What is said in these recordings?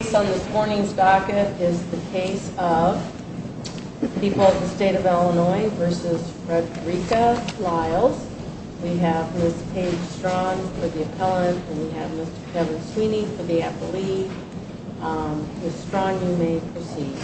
The case on this morning's docket is the case of the people of the state of Illinois v. Frederica Lyles. We have Ms. Paige Strong for the appellant, and we have Mr. Kevin Sweeney for the appellee. Ms. Strong, you may proceed.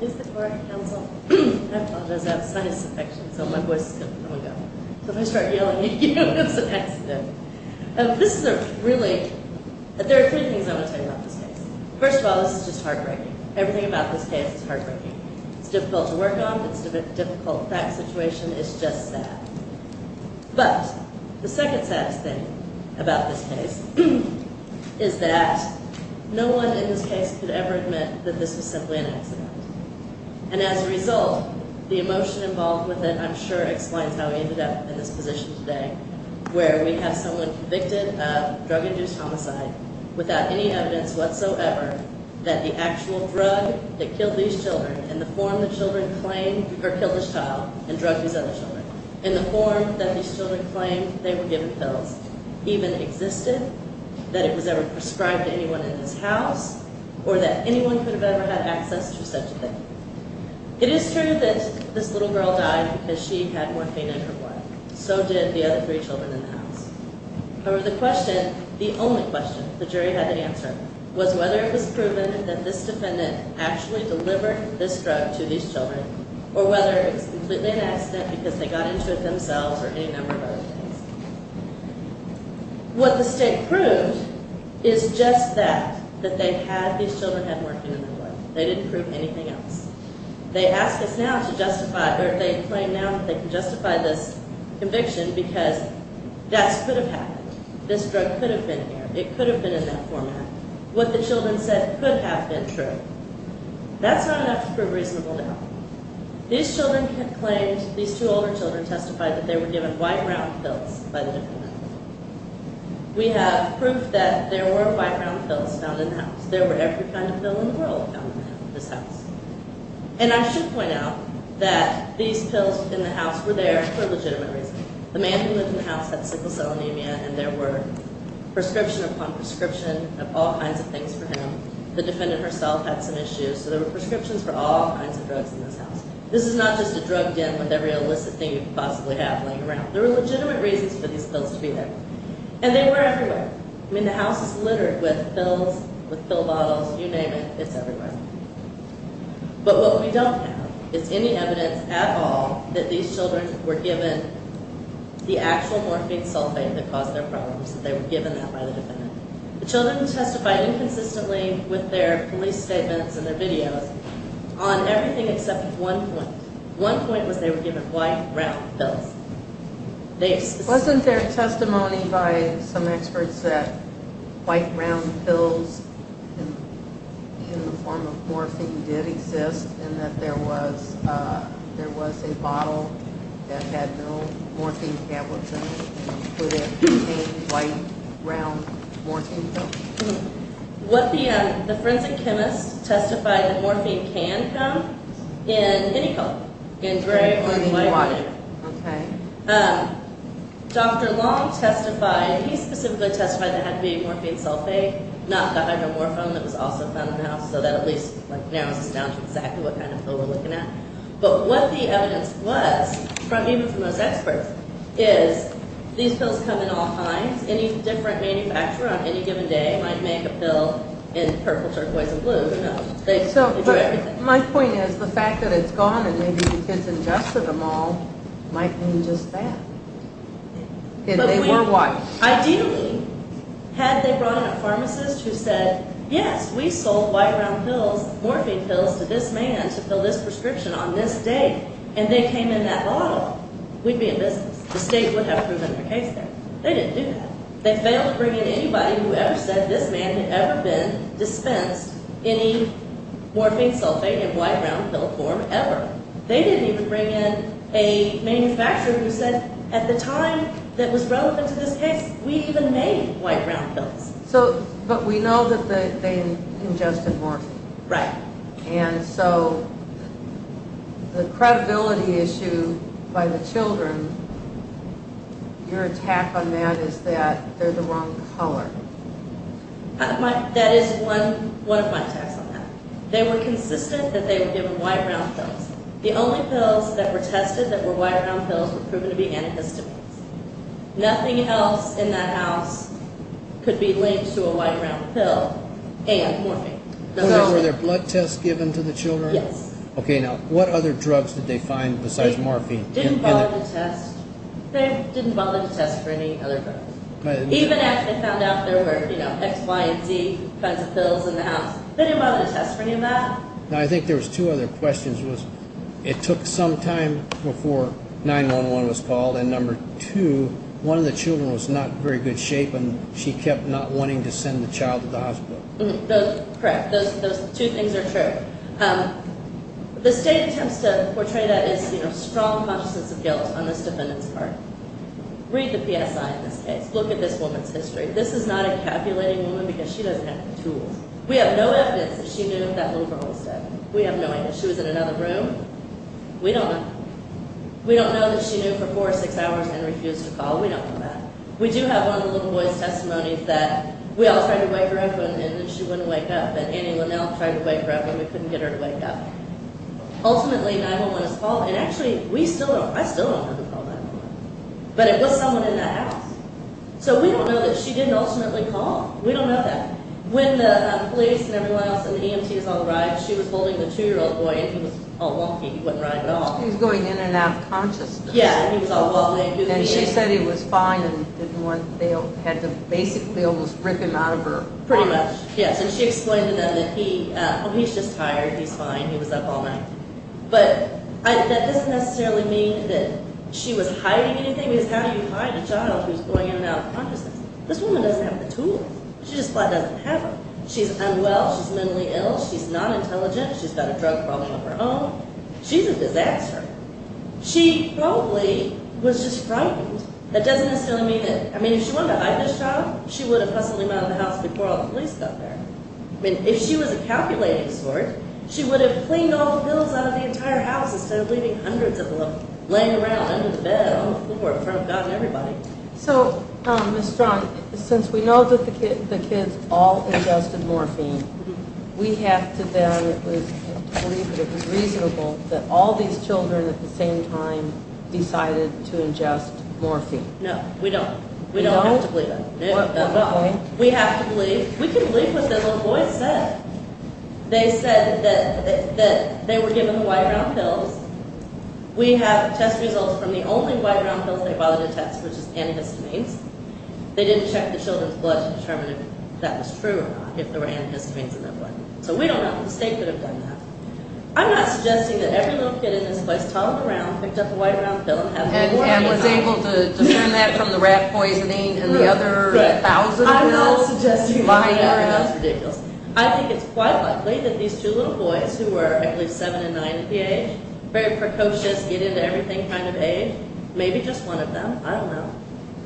Ms. Strong, I apologize. I have sinus infection, so my voice is going to come and go. If I start yelling at you, it's an accident. There are three things I want to tell you about this case. First of all, this is just heartbreaking. Everything about this case is heartbreaking. It's difficult to work off. It's a difficult fact situation. It's just sad. But the second saddest thing about this case is that no one in this case could ever admit that this was simply an accident. And as a result, the emotion involved with it, I'm sure, explains how we ended up in this position today, where we have someone convicted of drug-induced homicide without any evidence whatsoever that the actual drug that killed these children in the form the children claimed or killed this child and drugged these other children, in the form that these children claimed they were given pills, even existed, that it was ever prescribed to anyone in this house, or that anyone could have ever had access to such a thing. It is true that this little girl died because she had morphine in her blood. However, the question, the only question the jury had to answer, was whether it was proven that this defendant actually delivered this drug to these children, or whether it was completely an accident because they got into it themselves or any number of other things. What the state proved is just that, that they had these children have morphine in their blood. They didn't prove anything else. They ask us now to justify, or they claim now that they can justify this conviction because that could have happened. This drug could have been here. It could have been in that format. What the children said could have been true. That's not enough to prove reasonable doubt. These children have claimed, these two older children testified that they were given white round pills by the defendant. We have proof that there were white round pills found in the house. There were every kind of pill in the world found in this house. And I should point out that these pills in the house were there for a legitimate reason. The man who lived in the house had sickle cell anemia and there were prescription upon prescription of all kinds of things for him. The defendant herself had some issues. So there were prescriptions for all kinds of drugs in this house. This is not just a drug den with every illicit thing you could possibly have laying around. There were legitimate reasons for these pills to be there. And they were everywhere. I mean, the house is littered with pills, with pill bottles, you name it, it's everywhere. But what we don't have is any evidence at all that these children were given the actual morphine sulfate that caused their problems, that they were given that by the defendant. The children testified inconsistently with their police statements and their videos on everything except one point. One point was they were given white round pills. Wasn't there testimony by some experts that white round pills in the form of morphine did exist and that there was a bottle that had no morphine tablets in it and put in a white round morphine pill? The forensic chemists testified that morphine can come in any color, in gray or white. Dr. Long testified, he specifically testified that it had to be morphine sulfate, not the hydromorphone that was also found in the house, so that at least narrows us down to exactly what kind of pill we're looking at. But what the evidence was, even from those experts, is these pills come in all kinds. Any different manufacturer on any given day might make a pill in purple, turquoise, and blue. My point is the fact that it's gone and maybe the kids ingested them all might mean just that. Ideally, had they brought in a pharmacist who said, yes, we sold white round morphine pills to this man to fill this prescription on this day, and they came in that bottle, we'd be in business. The state would have proven their case there. They didn't do that. They failed to bring in anybody who ever said this man had ever been dispensed any morphine sulfate in white round pill form, ever. They didn't even bring in a manufacturer who said, at the time that was relevant to this case, we even made white round pills. But we know that they ingested morphine. Right. And so the credibility issue by the children, your attack on that is that they're the wrong color. That is one of my attacks on that. They were consistent that they were given white round pills. The only pills that were tested that were white round pills were proven to be antihistamines. Nothing else in that house could be linked to a white round pill and morphine. Were there blood tests given to the children? Yes. Okay, now, what other drugs did they find besides morphine? They didn't bother to test. They didn't bother to test for any other drugs. Even after they found out there were, you know, X, Y, and Z kinds of pills in the house, they didn't bother to test for any of that. Now, I think there was two other questions. It took some time before 911 was called, and number two, one of the children was not in very good shape, and she kept not wanting to send the child to the hospital. Correct. Those two things are true. The state attempts to portray that as, you know, strong consciousness of guilt on this defendant's part. Read the PSI in this case. Look at this woman's history. This is not a calculating woman because she doesn't have the tools. We have no evidence that she knew that little girl was dead. We have no evidence. She was in another room. We don't know. We don't know that she knew for four or six hours and refused to call. We don't know that. We do have one of the little boy's testimonies that we all tried to wake her up, and she wouldn't wake up, and anyone else tried to wake her up, and we couldn't get her to wake up. Ultimately, 911 was called, and actually, we still don't know. I still don't know who called 911, but it was someone in that house. So we don't know that she didn't ultimately call. We don't know that. When the police and everyone else and the EMT is on the ride, she was holding the 2-year-old boy, and he was all wonky. He wasn't riding at all. He was going in and out of consciousness. Yeah, and he was all wobbly. And she said he was fine and they had to basically almost rip him out of her arm. Pretty much, yes, and she explained to them that he's just tired. He's fine. He was up all night, but that doesn't necessarily mean that she was hiding anything, because how do you hide a child who's going in and out of consciousness? This woman doesn't have the tools. She just doesn't have them. She's unwell. She's mentally ill. She's not intelligent. She's got a drug problem of her own. She's a disaster. She probably was just frightened. That doesn't necessarily mean that, I mean, if she wanted to hide this child, she would have hustled him out of the house before all the police got there. I mean, if she was a calculating sort, she would have cleaned all the pillows out of the entire house instead of leaving hundreds of them laying around under the bed on the floor in front of God and everybody. So, Ms. Strong, since we know that the kids all ingested morphine, we have to then believe that it was reasonable that all these children at the same time decided to ingest morphine. No, we don't. We don't have to believe that. We have to believe. We can believe what the little boys said. They said that they were given the white round pills. We have test results from the only white round pills they bothered to test, which is antihistamines. They didn't check the children's blood to determine if that was true or not, if there were antihistamines in their blood. So we don't know if the state could have done that. I'm not suggesting that every little kid in this place toddled around, picked up a white round pill, and had more than one. And was able to discern that from the rat poisoning and the other thousand of them? I'm not suggesting that. That's ridiculous. I think it's quite likely that these two little boys, who were, I believe, seven and nine at the age, very precocious, get-into-everything kind of age, maybe just one of them, I don't know,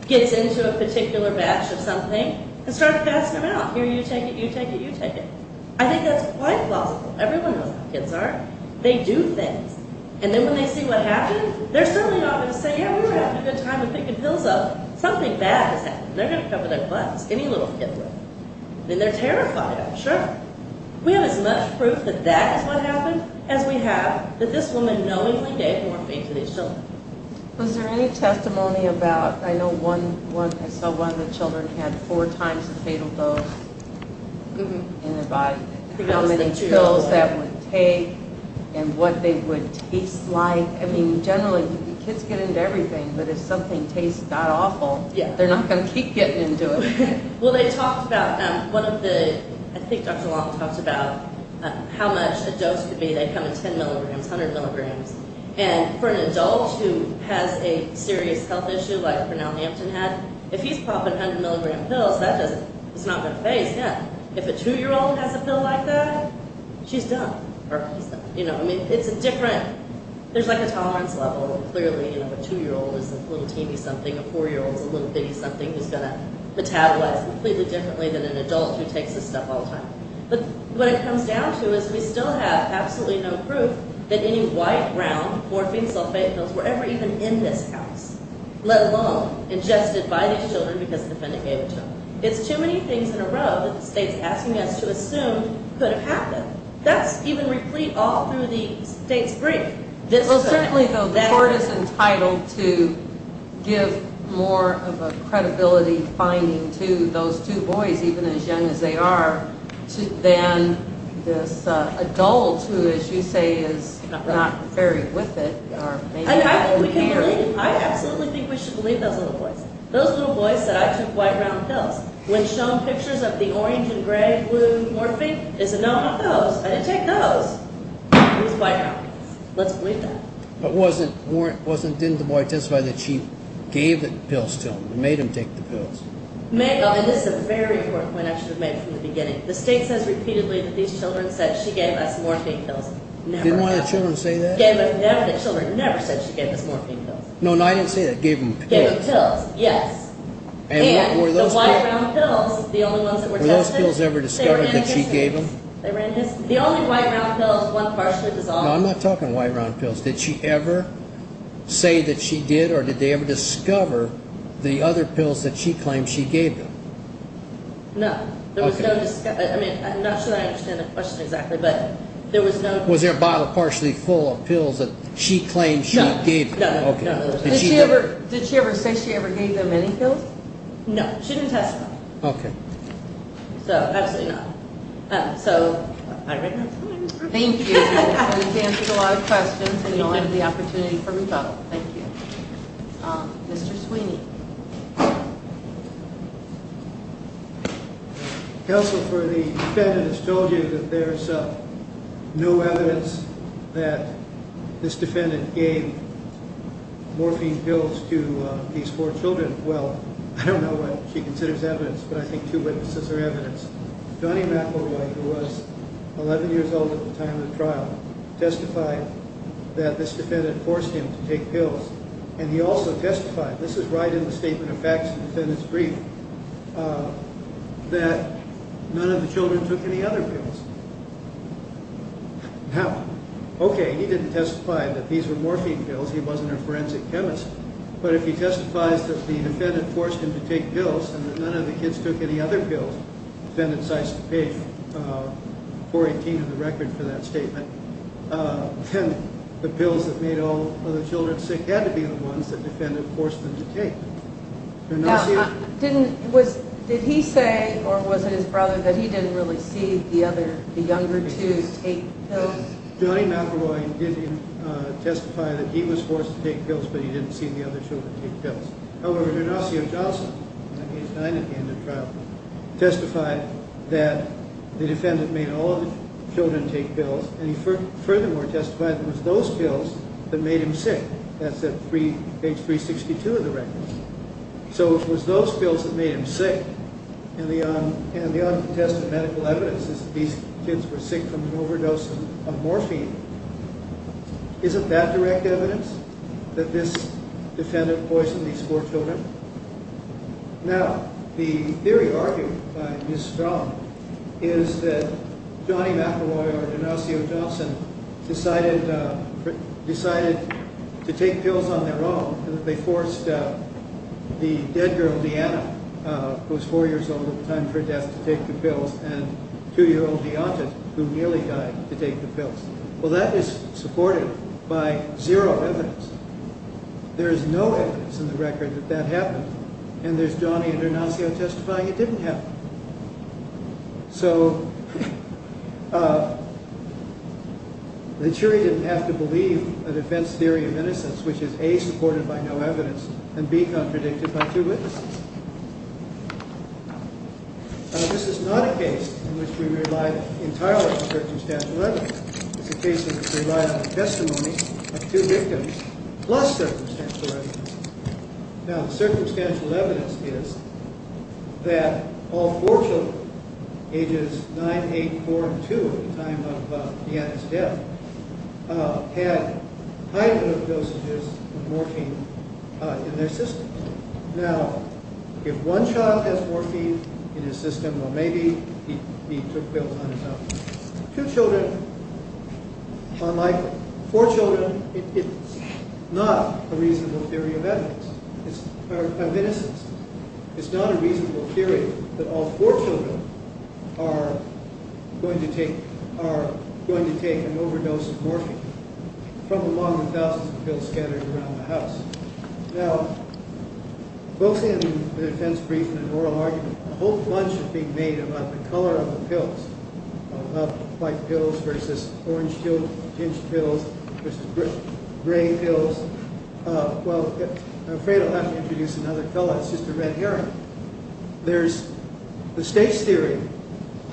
gets into a particular batch of something and starts passing them out. Here, you take it, you take it, you take it. I think that's quite plausible. Everyone knows how kids are. They do things. And then when they see what happens, they're certainly not going to say, yeah, we were having a good time with picking pills up. Something bad has happened. They're going to cover their butts. Any little kid would. Then they're terrified, I'm sure. We have as much proof that that is what happened as we have that this woman knowingly gave morphine to these children. Was there any testimony about, I know one, I saw one of the children had four times the fatal dose in their body. How many pills that would take and what they would taste like. I mean, generally, kids get-into-everything. But if something tastes that awful, they're not going to keep getting-into-it. Well, they talked about one of the, I think Dr. Long talked about how much a dose could be. They come in 10 milligrams, 100 milligrams. And for an adult who has a serious health issue like Cornell Hampton had, if he's popping 100 milligram pills, that doesn't, it's not going to faze him. If a two-year-old has a pill like that, she's done. You know, I mean, it's a different, there's like a tolerance level. Clearly, you know, a two-year-old is a little teeny something. A four-year-old is a little bitty something who's going to metabolize completely differently than an adult who takes this stuff all the time. But what it comes down to is we still have absolutely no proof that any white, brown, morphine, sulfate pills were ever even in this house, let alone ingested by these children because the defendant gave it to them. It's too many things in a row that the state's asking us to assume could have happened. That's even replete all through the state's brief. Well, certainly, though, the court is entitled to give more of a credibility finding to those two boys, even as young as they are, than this adult who, as you say, is not very with it. And I think we can believe, I absolutely think we should believe those little boys. Those little boys said, I took white, brown pills. When shown pictures of the orange and gray, blue morphine, they said, no, not those. I didn't take those. It was white, brown. Let's believe that. But wasn't, didn't the boy testify that she gave the pills to him, made him take the pills? This is a very important point I should have made from the beginning. The state says repeatedly that these children said she gave us morphine pills. Never have. Didn't one of the children say that? Never, the children never said she gave us morphine pills. No, I didn't say that. Gave them pills. Gave them pills, yes. And the white, brown pills, the only ones that were tested. Were those pills ever discovered that she gave them? They were in his, the only white, brown pills, one partially dissolved. No, I'm not talking white, brown pills. Did she ever say that she did or did they ever discover the other pills that she claimed she gave them? No. Okay. There was no, I mean, I'm not sure I understand the question exactly, but there was no. Was there a bottle partially full of pills that she claimed she gave them? No, no, no, no. Okay. Did she ever, did she ever say she ever gave them any pills? No, she didn't testify. Okay. So, absolutely not. So, all right. Thank you. And it's answered a lot of questions and you all had the opportunity for rebuttal. Thank you. Mr. Sweeney. Counsel for the defendant has told you that there's no evidence that this defendant gave morphine pills to these four children. Well, I don't know what she considers evidence, but I think two witnesses are evidence. Donnie McElroy, who was 11 years old at the time of the trial, testified that this defendant forced him to take pills. And he also testified, this is right in the statement of facts in the defendant's brief, that none of the children took any other pills. Now, okay, he didn't testify that these were morphine pills. He wasn't a forensic chemist. But if he testifies that the defendant forced him to take pills and that none of the kids took any other pills, defendant cites the page 418 of the record for that statement, then the pills that made all of the children sick had to be the ones that the defendant forced them to take. Now, did he say, or was it his brother, that he didn't really see the younger two take pills? Donnie McElroy did testify that he was forced to take pills, but he didn't see the other children take pills. However, Donasio Johnson testified that the defendant made all of the children take pills, and he furthermore testified that it was those pills that made him sick. That's at page 362 of the record. So it was those pills that made him sick, and the untested medical evidence is that these kids were sick from an overdose of morphine. Isn't that direct evidence that this defendant poisoned these four children? Now, the theory argued by Ms. Strong is that Donnie McElroy or Donasio Johnson decided to take pills on their own, and that they forced the dead girl Deanna, who was four years old at the time of her death, to take the pills, and two-year-old Deontes, who nearly died, to take the pills. Well, that is supported by zero evidence. There is no evidence in the record that that happened, and there's Donnie and Donasio testifying it didn't happen. So the jury didn't have to believe a defense theory of innocence, which is A, supported by no evidence, and B, contradicted by two witnesses. Now, this is not a case in which we rely entirely on circumstantial evidence. It's a case in which we rely on the testimony of two victims plus circumstantial evidence. Now, the circumstantial evidence is that all four children, ages 9, 8, 4, and 2 at the time of Deanna's death, had high dosages of morphine in their system. Now, if one child has morphine in his system, well, maybe he took pills on his own. Two children, unlikely. Four children, it's not a reasonable theory of evidence, or of innocence. It's not a reasonable theory that all four children are going to take an overdose of morphine from among the thousands of pills scattered around the house. Now, both in the defense brief and in the oral argument, a whole bunch is being made about the color of the pills, about white pills versus orange-tinged pills versus gray pills. Well, I'm afraid I'll have to introduce another fellow. It's just a red herring. There's the state's theory,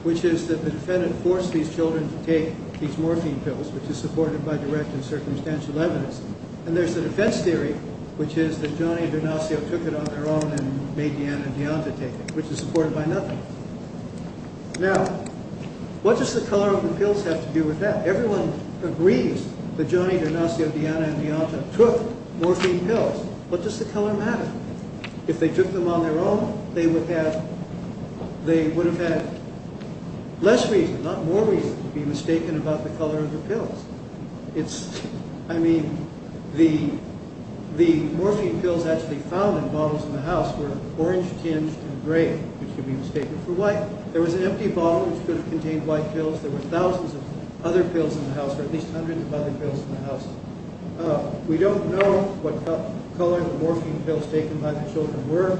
which is that the defendant forced these children to take these morphine pills, which is supported by direct and circumstantial evidence. And there's the defense theory, which is that Johnny D'Arnazio took it on their own and made Deanna and Deonta take it, which is supported by nothing. Now, what does the color of the pills have to do with that? Everyone agrees that Johnny D'Arnazio, Deanna, and Deonta took morphine pills. What does the color matter? If they took them on their own, they would have had less reason, not more reason, to be mistaken about the color of the pills. I mean, the morphine pills actually found in bottles in the house were orange-tinged and gray, which could be mistaken for white. There was an empty bottle, which could have contained white pills. There were thousands of other pills in the house, or at least hundreds of other pills in the house. We don't know what color the morphine pills taken by the children were,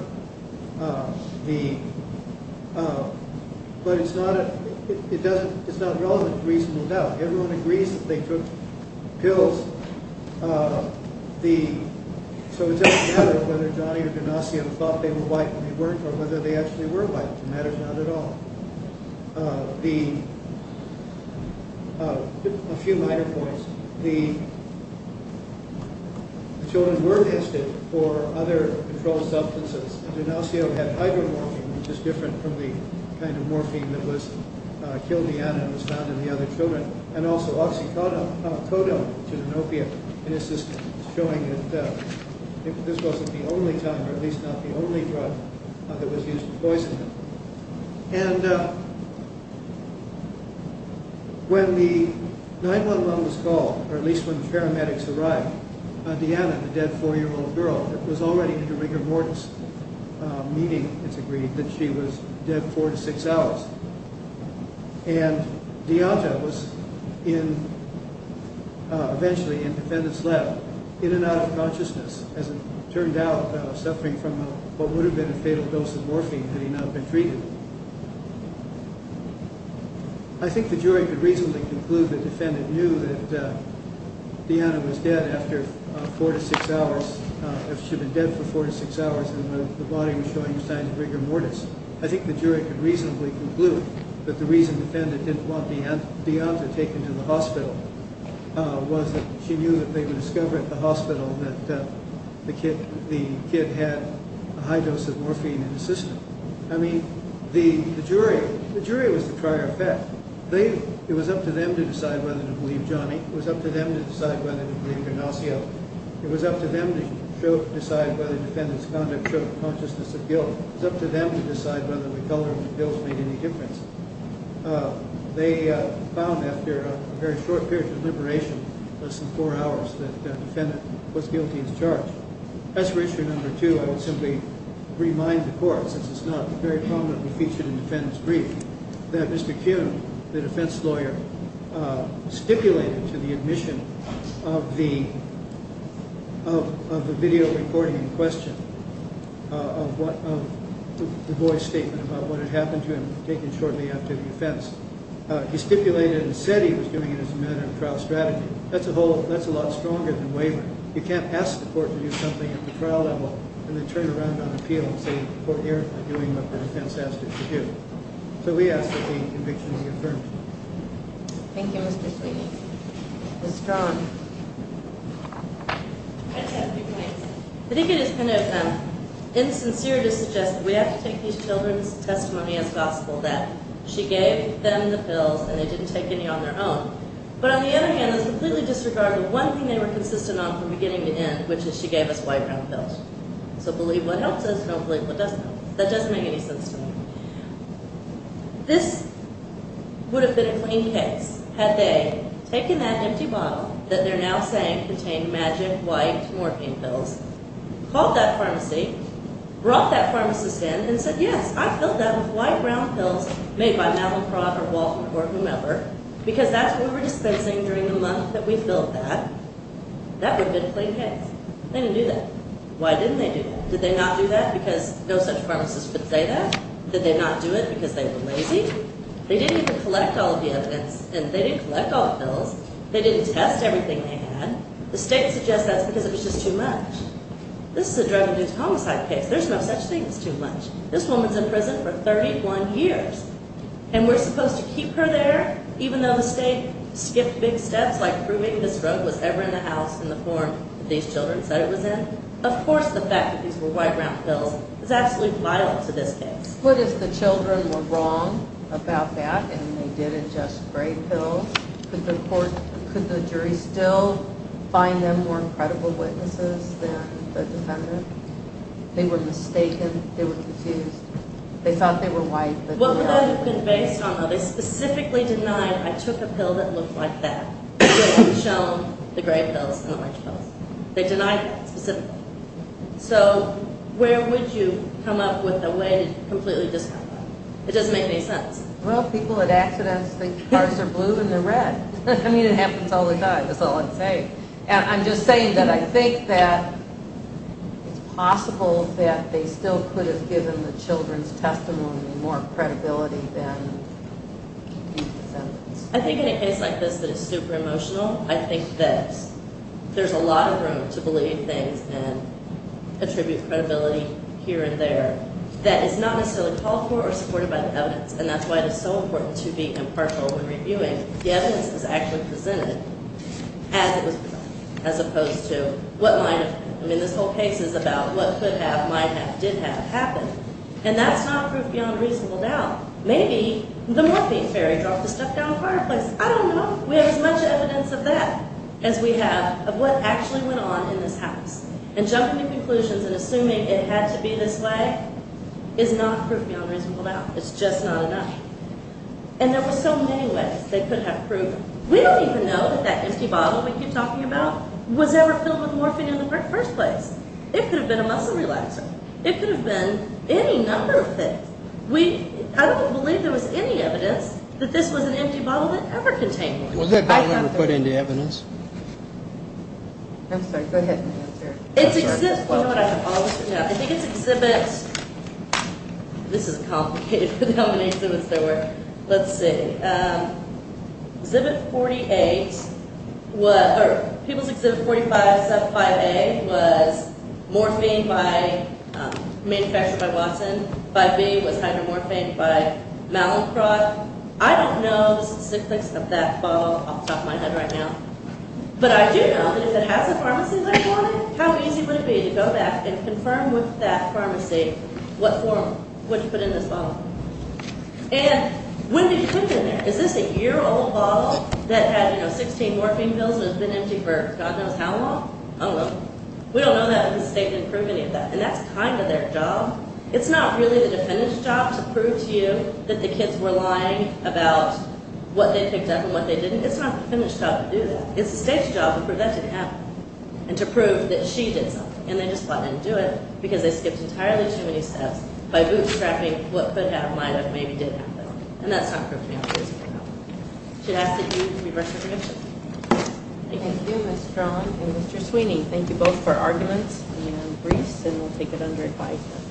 but it's not relevant to reasonable doubt. Everyone agrees that they took pills, so it doesn't matter whether Johnny or D'Arnazio thought they were white when they weren't or whether they actually were white. It matters not at all. A few minor points. The children were tested for other controlled substances. D'Arnazio had hydromorphine, which is different from the kind of morphine that was killed Deanna and was found in the other children, and also oxycodone, which is an opiate in his system, showing that this wasn't the only time, or at least not the only drug that was used to poison them. And when the 911 was called, or at least when the paramedics arrived, Deanna, the dead four-year-old girl, was already in a rigor mortis, meaning, it's agreed, that she was dead four to six hours. And Deanna was eventually in the defendant's lap, in and out of consciousness, as it turned out, suffering from what would have been a fatal dose of morphine had he not been treated. I think the jury could reasonably conclude the defendant knew that Deanna was dead after four to six hours, that she had been dead for four to six hours, and the body was showing signs of rigor mortis. I think the jury could reasonably conclude that the reason the defendant didn't want Deanna taken to the hospital was that she knew that they would discover at the hospital that the kid had a high dose of morphine in his system. I mean, the jury was the prior effect. It was up to them to decide whether to believe Johnny. It was up to them to decide whether to believe Ignacio. It was up to them to decide whether the defendant's conduct showed a consciousness of guilt. It was up to them to decide whether the color of the pills made any difference. They found, after a very short period of deliberation, less than four hours, that the defendant was guilty as charged. As for issue number two, I will simply remind the court, since it's not very prominently featured in the defendant's brief, that Mr. Kuhn, the defense lawyer, stipulated to the admission of the video recording in question of the boy's statement about what had happened to him, taken shortly after the offense. He stipulated and said he was doing it as a matter of trial strategy. That's a lot stronger than wavering. You can't ask the court to do something at the trial level and then turn around on appeal and say the court erred in doing what the defense asked it to do. So we ask that the conviction be affirmed. Thank you, Mr. Kuhn. Ms. Strong. I just have a few points. I think it is kind of insincere to suggest that we have to take these children's testimony as gospel, that she gave them the pills and they didn't take any on their own. But on the other hand, it's completely disregarded one thing they were consistent on from beginning to end, which is she gave us white round pills. So believe what helps us and don't believe what doesn't help us. That doesn't make any sense to me. This would have been a clean case had they taken that empty bottle that they're now saying contained the magic white morphine pills, called that pharmacy, brought that pharmacist in and said, yes, I filled that with white round pills made by Malaprof or Waltham or whomever, because that's what we're dispensing during the month that we filled that. That would have been a clean case. They didn't do that. Why didn't they do that? Did they not do that because no such pharmacist would say that? Did they not do it because they were lazy? They didn't test everything they had. The state suggests that's because it was just too much. This is a drug abuse homicide case. There's no such thing as too much. This woman's in prison for 31 years, and we're supposed to keep her there, even though the state skipped big steps like proving this drug was ever in the house in the form that these children said it was in? Of course the fact that these were white round pills is absolutely vile to this case. What if the children were wrong about that and they didn't just spray pills? Could the jury still find them more credible witnesses than the defendant? They were mistaken. They were confused. They thought they were white. What would that have been based on, though? They specifically denied, I took a pill that looked like that. It would have shown the gray pills and the orange pills. They denied that specifically. So where would you come up with a way to completely discount that? It doesn't make any sense. Well, people at accidents think cars are blue and they're red. I mean it happens all the time. That's all I'm saying. I'm just saying that I think that it's possible that they still could have given the children's testimony more credibility than the defendants. I think in a case like this that is super emotional, I think that there's a lot of room to believe things and attribute credibility here and there that is not necessarily called for or supported by the evidence, and that's why it is so important to be impartial when reviewing. The evidence is actually presented as it was presented as opposed to what might have happened. I mean this whole case is about what could have, might have, did have happened, and that's not proof beyond reasonable doubt. Maybe the morphine fairy dropped the stuff down the fireplace. I don't know. We have as much evidence of that as we have of what actually went on in this house, and jumping to conclusions and assuming it had to be this way is not proof beyond reasonable doubt. It's just not enough. And there were so many ways they could have proved. We don't even know that that empty bottle we keep talking about was ever filled with morphine in the first place. It could have been a muscle relaxer. It could have been any number of things. I don't believe there was any evidence that this was an empty bottle that ever contained morphine. Was that bottle ever put into evidence? I'm sorry. Go ahead and answer. You know what? I have all this stuff. I think it's exhibit – this is complicated with how many exhibits there were. Let's see. Exhibit 48 was – or people's exhibit 4575A was morphine by – manufactured by Watson. 5B was hydromorphine by Mallinckrodt. I don't know the succinctness of that bottle off the top of my head right now, but I do know that if it has a pharmacy label on it, how easy would it be to go back and confirm with that pharmacy what form – what you put in this bottle. And when did you put it in there? Is this a year-old bottle that had, you know, 16 morphine pills and has been empty for God knows how long? I don't know. We don't know that because the state didn't prove any of that, and that's kind of their job. It's not really the defendant's job to prove to you that the kids were lying about what they picked up and what they didn't. It's not the defendant's job to do that. It's the state's job to prove that didn't happen and to prove that she did something, and they just let them do it because they skipped entirely too many steps by bootstrapping what could have, might have, maybe did happen, and that's not proof to me that she did something. Should I ask that you reverse your position? Thank you, Ms. Cron and Mr. Sweeney. Thank you both for arguments and briefs, and we'll take it under advisement.